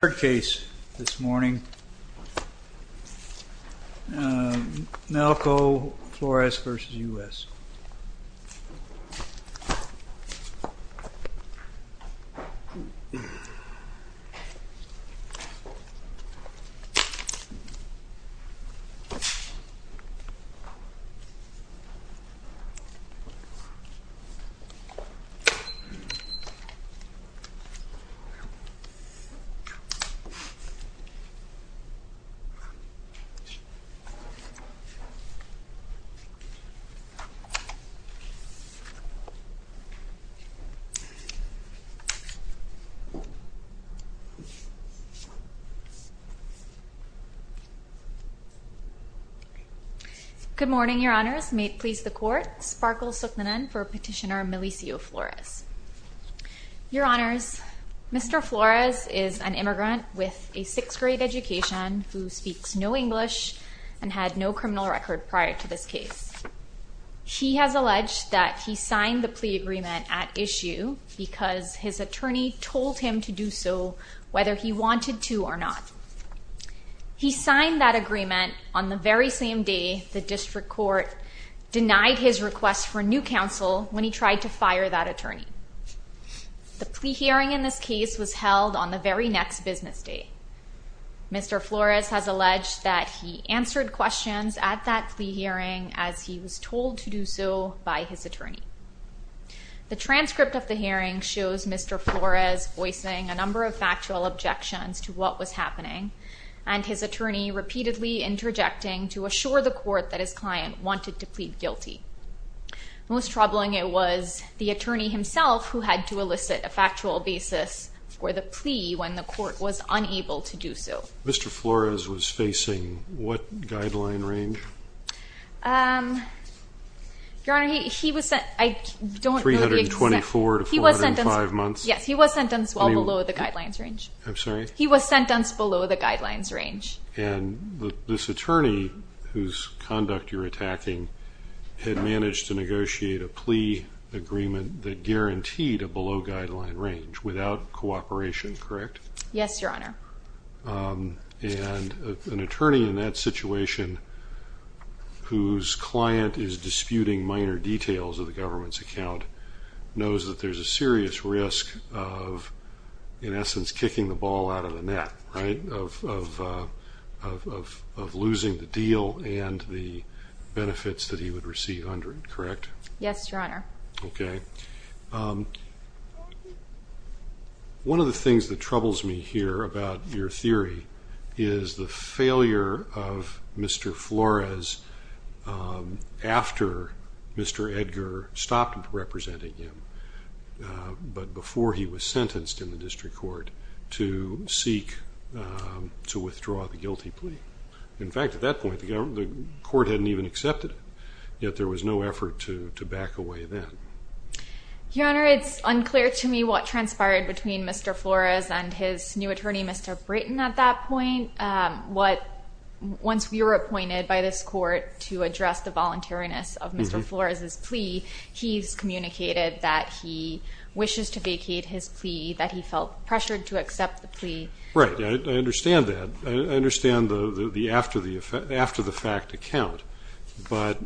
Third case this morning, Melecio Flores v. United States Third case this morning, Melecio Flores v. United States Good morning, your honors. May it please the court, Sparkle Sukhnanan for petitioner Melecio Flores. Your honors, Mr. Flores is an immigrant with a sixth grade education who speaks no English and had no criminal record prior to this case. He has alleged that he signed the plea agreement at issue because his attorney told him to do so, whether he wanted to or not. He signed that agreement on the very same day the district court denied his request for new counsel when he tried to fire that attorney. The plea hearing in this case was held on the very next business day. Mr. Flores has alleged that he answered questions at that plea hearing as he was told to do so by his attorney. The transcript of the hearing shows Mr. Flores voicing a number of factual objections to what was happening, and his attorney repeatedly interjecting to assure the court that his client wanted to plead guilty. Most troubling, it was the attorney himself who had to elicit a factual basis for the plea when the court was unable to do so. Mr. Flores was facing what guideline range? Your honor, he was sentenced... 324 to 405 months? Yes, he was sentenced well below the guidelines range. I'm sorry? He was sentenced below the guidelines range. And this attorney, whose conduct you're attacking, had managed to negotiate a plea agreement that guaranteed a below guideline range without cooperation, correct? Yes, your honor. And an attorney in that situation, whose client is disputing minor details of the government's account, knows that there's a serious risk of, in essence, kicking the ball out of the net, right? Of losing the deal and the benefits that he would receive under it, correct? Yes, your honor. Okay. One of the things that troubles me here about your theory is the failure of Mr. Flores after Mr. Edgar stopped representing him, but before he was sentenced in the district court, to seek to withdraw the guilty plea. In fact, at that point, the court hadn't even accepted it, yet there was no effort to back away then. Your honor, it's unclear to me what transpired between Mr. Flores and his new attorney, Mr. Britton, at that point. Once we were appointed by this court to address the voluntariness of Mr. Flores' plea, he's communicated that he wishes to vacate his plea, that he felt pressured to accept the plea. Right, I understand that. I understand the after-the-fact account, but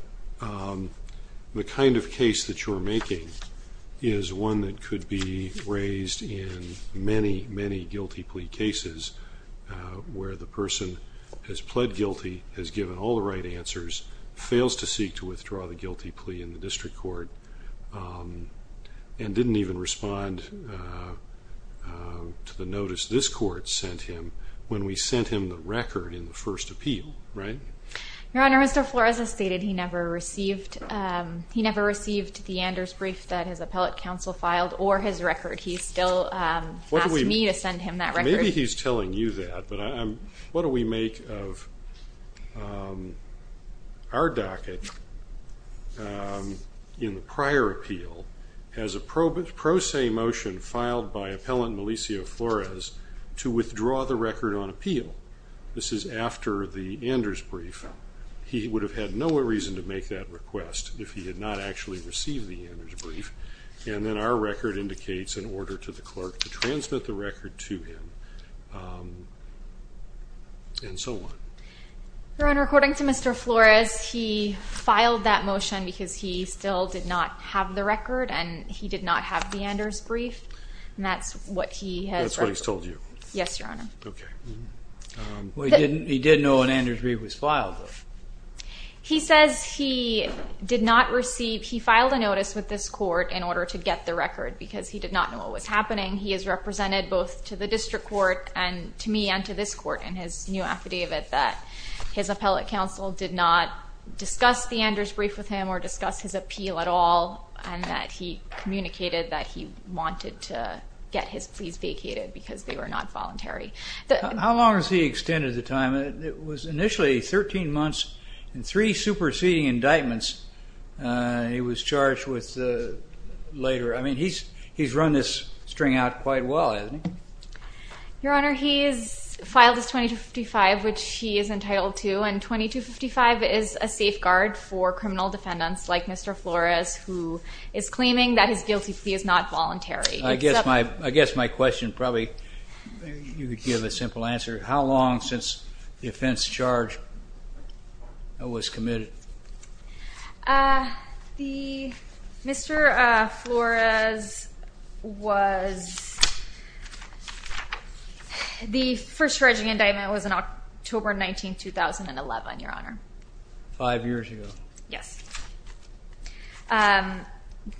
the kind of case that you're making is one that could be raised in many, many guilty plea cases, where the person has pled guilty, has given all the right answers, fails to seek to withdraw the guilty plea in the district court, and didn't even respond to the notice this court sent him when we sent him the record in the first appeal, right? Your honor, Mr. Flores has stated he never received the Anders brief that his appellate counsel filed, or his record. He still asked me to send him that record. Maybe he's telling you that, but what do we make of our docket in the prior appeal has a pro se motion filed by appellant Melisio Flores to withdraw the record on appeal. This is after the Anders brief. He would have had no reason to make that request if he had not actually received the Anders brief, and then our record indicates an order to the clerk to transmit the record to him, and so on. Your honor, according to Mr. Flores, he filed that motion because he still did not have the record, and he did not have the Anders brief, and that's what he has recorded. That's what he's told you. Yes, your honor. Okay. He did know an Anders brief was filed, though. He says he did not receive, he filed a notice with this court in order to get the record, because he did not know what was happening. He has represented both to the district court and to me and to this court in his new affidavit that his appellate counsel did not discuss the Anders brief with him or discuss his appeal at all, and that he communicated that he wanted to get his pleas vacated because they were not voluntary. How long has he extended the time? It was initially 13 months and three superseding indictments. He was charged with later. I mean, he's run this string out quite well, hasn't he? Your honor, he has filed his 2255, which he is entitled to, and 2255 is a safeguard for criminal defendants like Mr. Flores, who is claiming that his guilty plea is not voluntary. I guess my question probably you could give a simple answer. How long since the offense charge was committed? Mr. Flores was the first charging indictment was on October 19, 2011, your honor. Five years ago. Yes.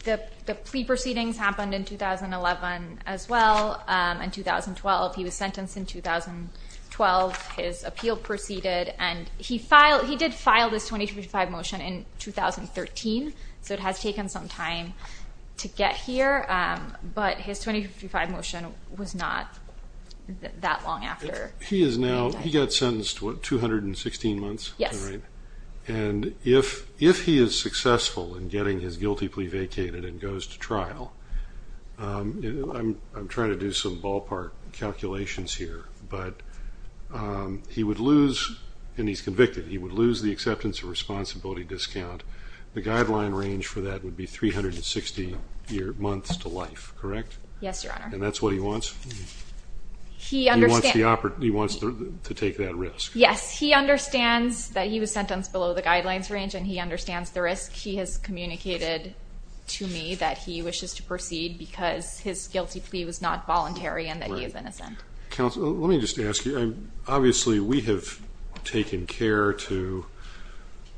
The plea proceedings happened in 2011 as well, and 2012. He was sentenced in 2012. His appeal proceeded, and he did file this 2255 motion in 2013, so it has taken some time to get here, but his 2255 motion was not that long after. He got sentenced, what, 216 months? Yes. And if he is successful in getting his guilty plea vacated and goes to trial, I'm trying to do some ballpark calculations here, but he would lose, and he's convicted, he would lose the acceptance of responsibility discount. The guideline range for that would be 360 months to life, correct? Yes, your honor. And that's what he wants? He understands. He wants to take that risk. Yes, he understands that he was sentenced below the guidelines range, and he understands the risk. He has communicated to me that he wishes to proceed because his guilty plea was not voluntary and that he is innocent. Counsel, let me just ask you, obviously we have taken care to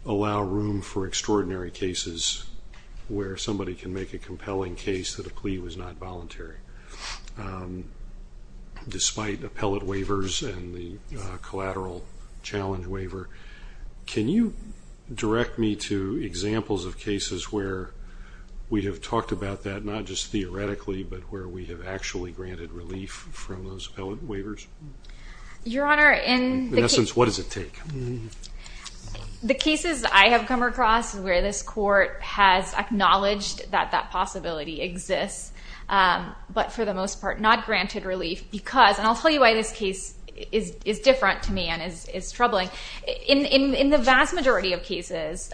allow room for extraordinary cases where somebody can make a compelling case that a plea was not voluntary, despite appellate waivers and the collateral challenge waiver. Can you direct me to examples of cases where we have talked about that, not just theoretically, but where we have actually granted relief from those appellate waivers? Your honor, in the case. In essence, what does it take? The cases I have come across where this court has acknowledged that that possibility exists, but for the most part not granted relief because, and I'll tell you why this case is different to me and is troubling. In the vast majority of cases,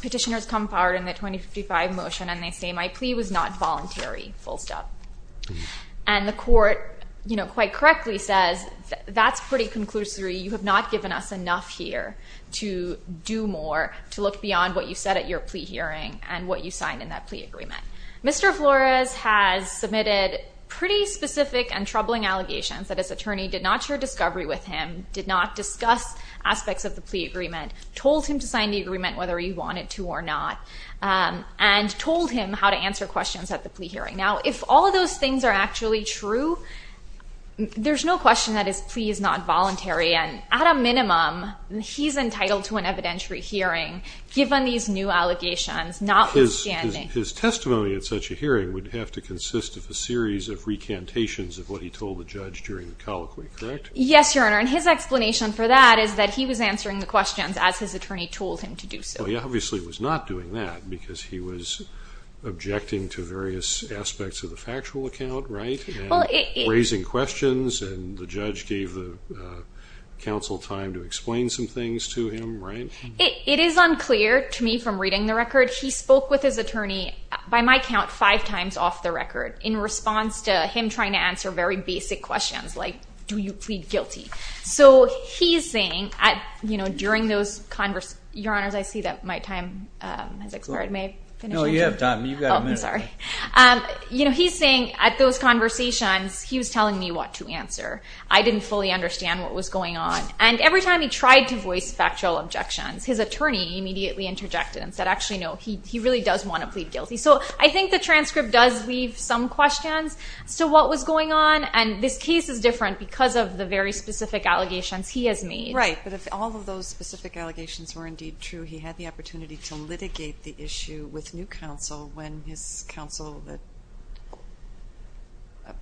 petitioners come forward in the 2055 motion and they say my plea was not voluntary, full stop. And the court quite correctly says that's pretty conclusory. You have not given us enough here to do more, to look beyond what you said at your plea hearing and what you signed in that plea agreement. Mr. Flores has submitted pretty specific and troubling allegations that his attorney did not share discovery with him, did not discuss aspects of the plea agreement, told him to sign the agreement whether he wanted to or not, and told him how to answer questions at the plea hearing. Now, if all of those things are actually true, there's no question that his plea is not voluntary. And at a minimum, he's entitled to an evidentiary hearing given these new allegations notwithstanding. His testimony at such a hearing would have to consist of a series of recantations of what he told the judge during the colloquy, correct? Yes, Your Honor. And his explanation for that is that he was answering the questions as his attorney told him to do so. He obviously was not doing that because he was objecting to various aspects of the factual account, right? Raising questions and the judge gave the counsel time to explain some things to him, right? It is unclear to me from reading the record. He spoke with his attorney, by my count, five times off the record in response to him trying to answer very basic questions like, do you plead guilty? So he's saying during those conversations, Your Honor, I see that my time has expired. May I finish? No, you have time. You've got a minute. Oh, I'm sorry. He's saying at those conversations, he was telling me what to answer. I didn't fully understand what was going on. And every time he tried to voice factual objections, his attorney immediately interjected and said, actually, no, he really does want to plead guilty. So I think the transcript does leave some questions. So what was going on? And this case is different because of the very specific allegations he has made. Right, but if all of those specific allegations were indeed true, he had the opportunity to litigate the issue with new counsel when his counsel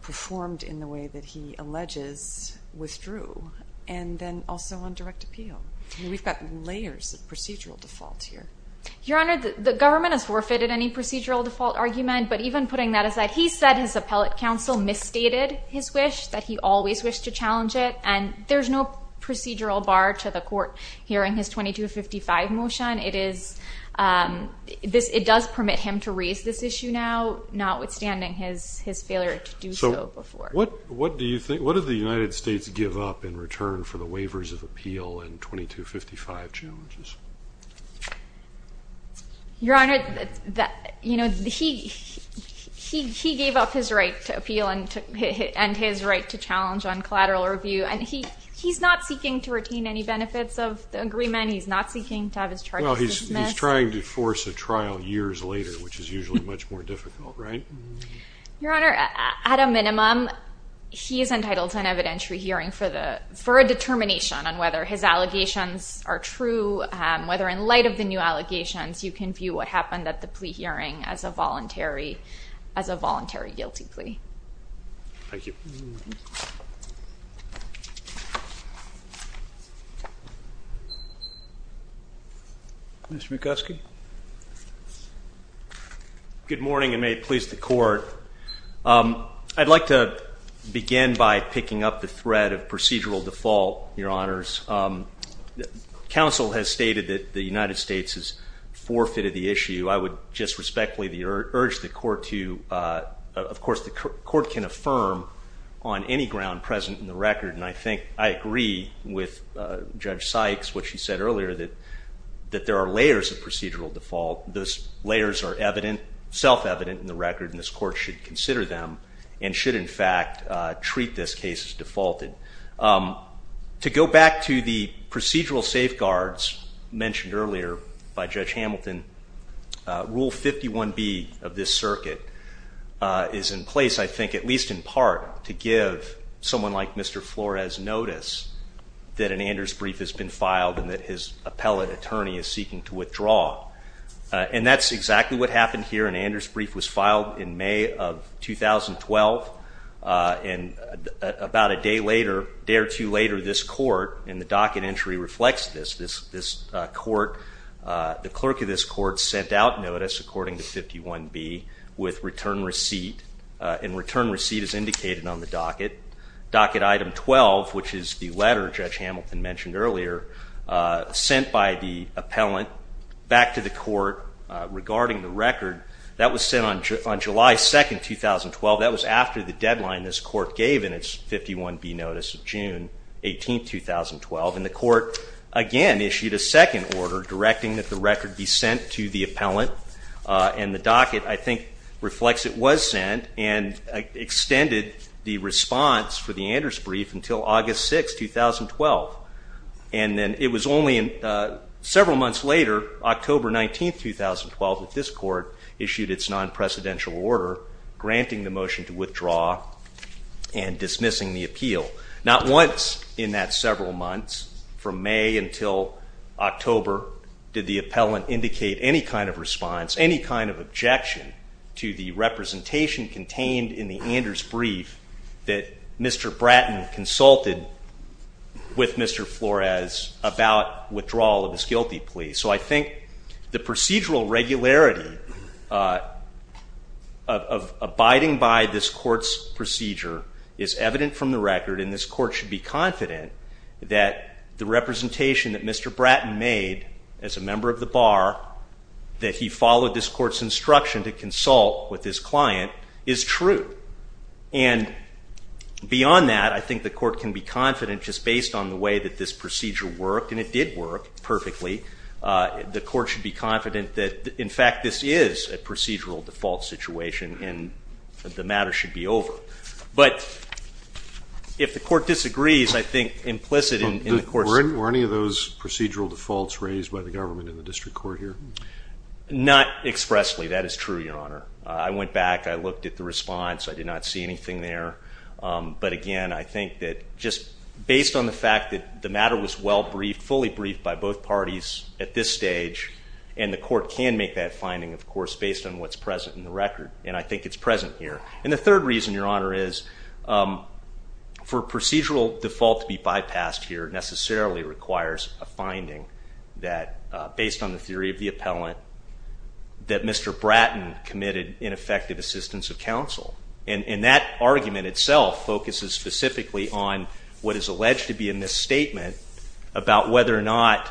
performed in the way that he alleges withdrew, and then also on direct appeal. We've got layers of procedural default here. Your Honor, the government has forfeited any procedural default argument, but even putting that aside, he said his appellate counsel misstated his wish, that he always wished to challenge it, and there's no procedural bar to the court hearing his 2255 motion. It does permit him to raise this issue now, notwithstanding his failure to do so before. So what do the United States give up in return for the waivers of appeal and 2255 challenges? Your Honor, he gave up his right to appeal and his right to challenge on collateral review, and he's not seeking to retain any benefits of the agreement. He's not seeking to have his charges dismissed. Well, he's trying to force a trial years later, which is usually much more difficult, right? Your Honor, at a minimum, he is entitled to an evidentiary hearing for a determination on whether his allegations are true, whether in light of the new allegations, you can view what happened at the plea hearing as a voluntary guilty plea. Thank you. Mr. Bukowski? Good morning, and may it please the Court. I'd like to begin by picking up the thread of procedural default, Your Honors. Counsel has stated that the United States has forfeited the issue. I would just respectfully urge the Court to, of course, the Court can affirm on any ground present in the record, and I think I agree with Judge Sykes, what she said earlier, that there are layers of procedural default. Those layers are evident, self-evident in the record, and this Court should consider them and should, in fact, treat this case as defaulted. To go back to the procedural safeguards mentioned earlier by Judge Hamilton, Rule 51B of this circuit is in place, I think, at least in part, to give someone like Mr. Flores notice that an Anders brief has been filed and that his appellate attorney is seeking to withdraw. And that's exactly what happened here. An Anders brief was filed in May of 2012, and about a day or two later, this Court, and the docket entry reflects this, this Court, the clerk of this Court sent out notice, according to 51B, with return receipt, and return receipt is indicated on the docket. Docket item 12, which is the letter Judge Hamilton mentioned earlier, sent by the appellant back to the Court regarding the record, that was sent on July 2, 2012. That was after the deadline this Court gave in its 51B notice of June 18, 2012. And the Court, again, issued a second order directing that the record be sent to the appellant, and the docket, I think, reflects it was sent and extended the response for the Anders brief until August 6, 2012. And then it was only several months later, October 19, 2012, that this Court issued its non-presidential order granting the motion to withdraw and dismissing the appeal. Not once in that several months, from May until October, did the appellant indicate any kind of response, any kind of objection to the representation contained in the Anders brief that Mr. Bratton consulted with Mr. Flores about withdrawal of his guilty plea. So I think the procedural regularity of abiding by this Court's procedure is evident from the record, and this Court should be confident that the representation that Mr. Bratton made as a member of the Bar, that he followed this Court's instruction to consult with his client, is true. And beyond that, I think the Court can be confident, just based on the way that this procedure worked, and it did work perfectly, the Court should be confident that in fact this is a procedural default situation and the matter should be over. But if the Court disagrees, I think implicit in the Court's... Were any of those procedural defaults raised by the government in the district court here? Not expressly, that is true, Your Honor. I went back, I looked at the response, I did not see anything there. But again, I think that just based on the fact that the matter was well briefed, fully briefed by both parties at this stage, and the Court can make that finding, of course, based on what's present in the record, and I think it's present here. And the third reason, Your Honor, is for procedural default to be bypassed here necessarily requires a finding that, based on the theory of the appellant, that Mr. Bratton committed ineffective assistance of counsel. And that argument itself focuses specifically on what is alleged to be a misstatement about whether or not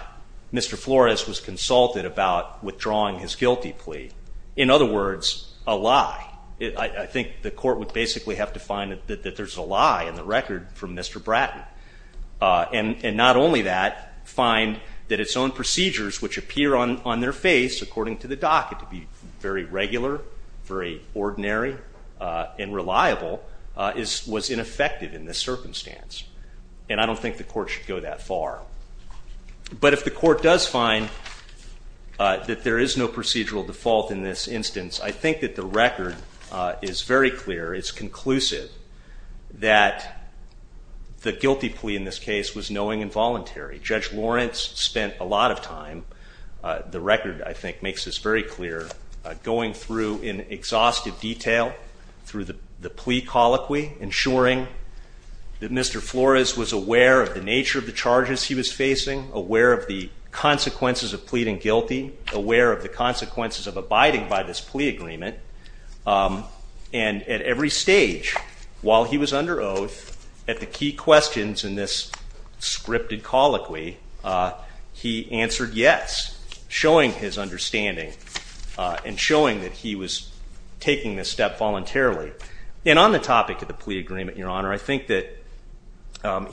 Mr. Flores was consulted about withdrawing his guilty plea. In other words, a lie. I think the Court would basically have to find that there's a lie in the record from Mr. Bratton. And not only that, find that its own procedures, which appear on their face, according to the docket, to be very regular, very ordinary, and reliable, was ineffective in this circumstance. And I don't think the Court should go that far. But if the Court does find that there is no procedural default in this instance, I think that the record is very clear. It's conclusive that the guilty plea in this case was knowing and voluntary. Judge Lawrence spent a lot of time. The record, I think, makes this very clear. Going through in exhaustive detail through the plea colloquy, ensuring that Mr. Flores was aware of the nature of the charges he was facing, aware of the consequences of pleading guilty, aware of the consequences of abiding by this plea agreement. And at every stage, while he was under oath, at the key questions in this scripted colloquy, he answered yes, showing his understanding and showing that he was taking this step voluntarily. And on the topic of the plea agreement, Your Honor, I think that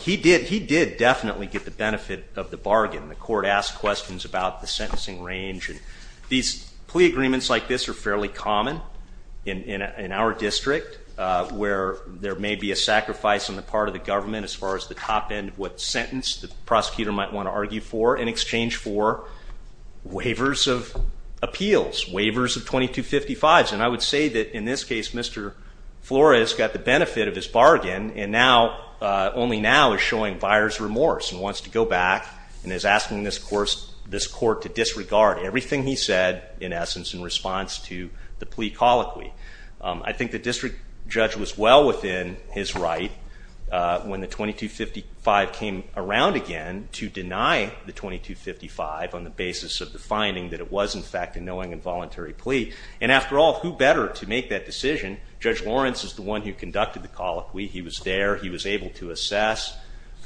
he did definitely get the benefit of the bargain. The Court asked questions about the sentencing range. And these plea agreements like this are fairly common in our district, where there may be a sacrifice on the part of the government as far as the top end of what sentence the prosecutor might want to argue for in exchange for waivers of appeals, waivers of 2255s. And I would say that in this case, Mr. Flores got the benefit of his bargain and now, only now, is showing buyer's remorse and wants to go back and is asking this Court to disregard everything he said, in essence, in response to the plea colloquy. I think the district judge was well within his right when the 2255 came around again to deny the 2255 on the basis of the finding that it was, in fact, a knowing and voluntary plea. And after all, who better to make that decision? Judge Lawrence is the one who conducted the colloquy. He was there. He was able to assess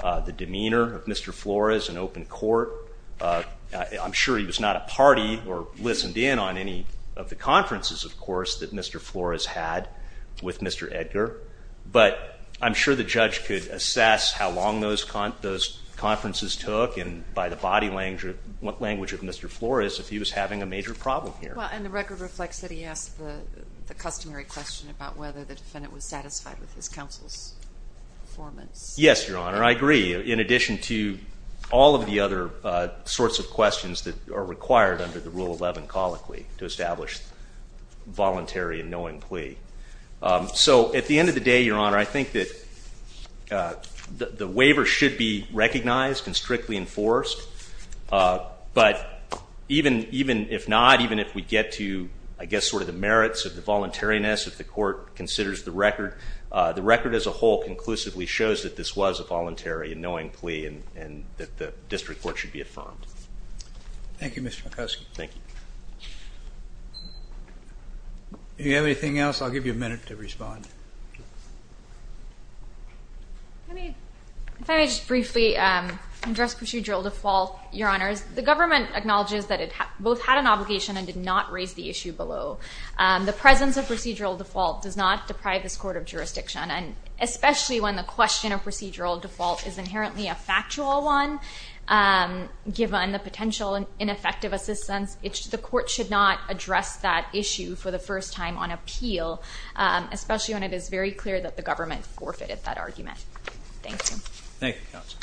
the demeanor of Mr. Flores in open court. I'm sure he was not a party or listened in on any of the conferences, of course, that Mr. Flores had with Mr. Edgar. But I'm sure the judge could assess how long those conferences took and by the body language of Mr. Flores if he was having a major problem here. And the record reflects that he asked the customary question about whether the defendant was satisfied with his counsel's performance. Yes, Your Honor. I agree. In addition to all of the other sorts of questions that are required under the Rule 11 colloquy to establish voluntary and knowing plea. So at the end of the day, Your Honor, I think that the waiver should be recognized and strictly enforced. But even if not, even if we get to, I guess, sort of the merits of the voluntariness if the court considers the record, the record as a whole conclusively shows that this was a voluntary and knowing plea and that the district court should be affirmed. Thank you, Mr. McCoskey. Thank you. Do you have anything else? I'll give you a minute to respond. If I may just briefly address procedural default, Your Honors. The government acknowledges that it both had an obligation and did not raise the issue below. The presence of procedural default does not deprive this court of jurisdiction, especially when the question of procedural default is inherently a factual one given the potential ineffective assistance. The court should not address that issue for the first time on appeal, especially when it is very clear that the government forfeited that argument. Thank you, Counsel.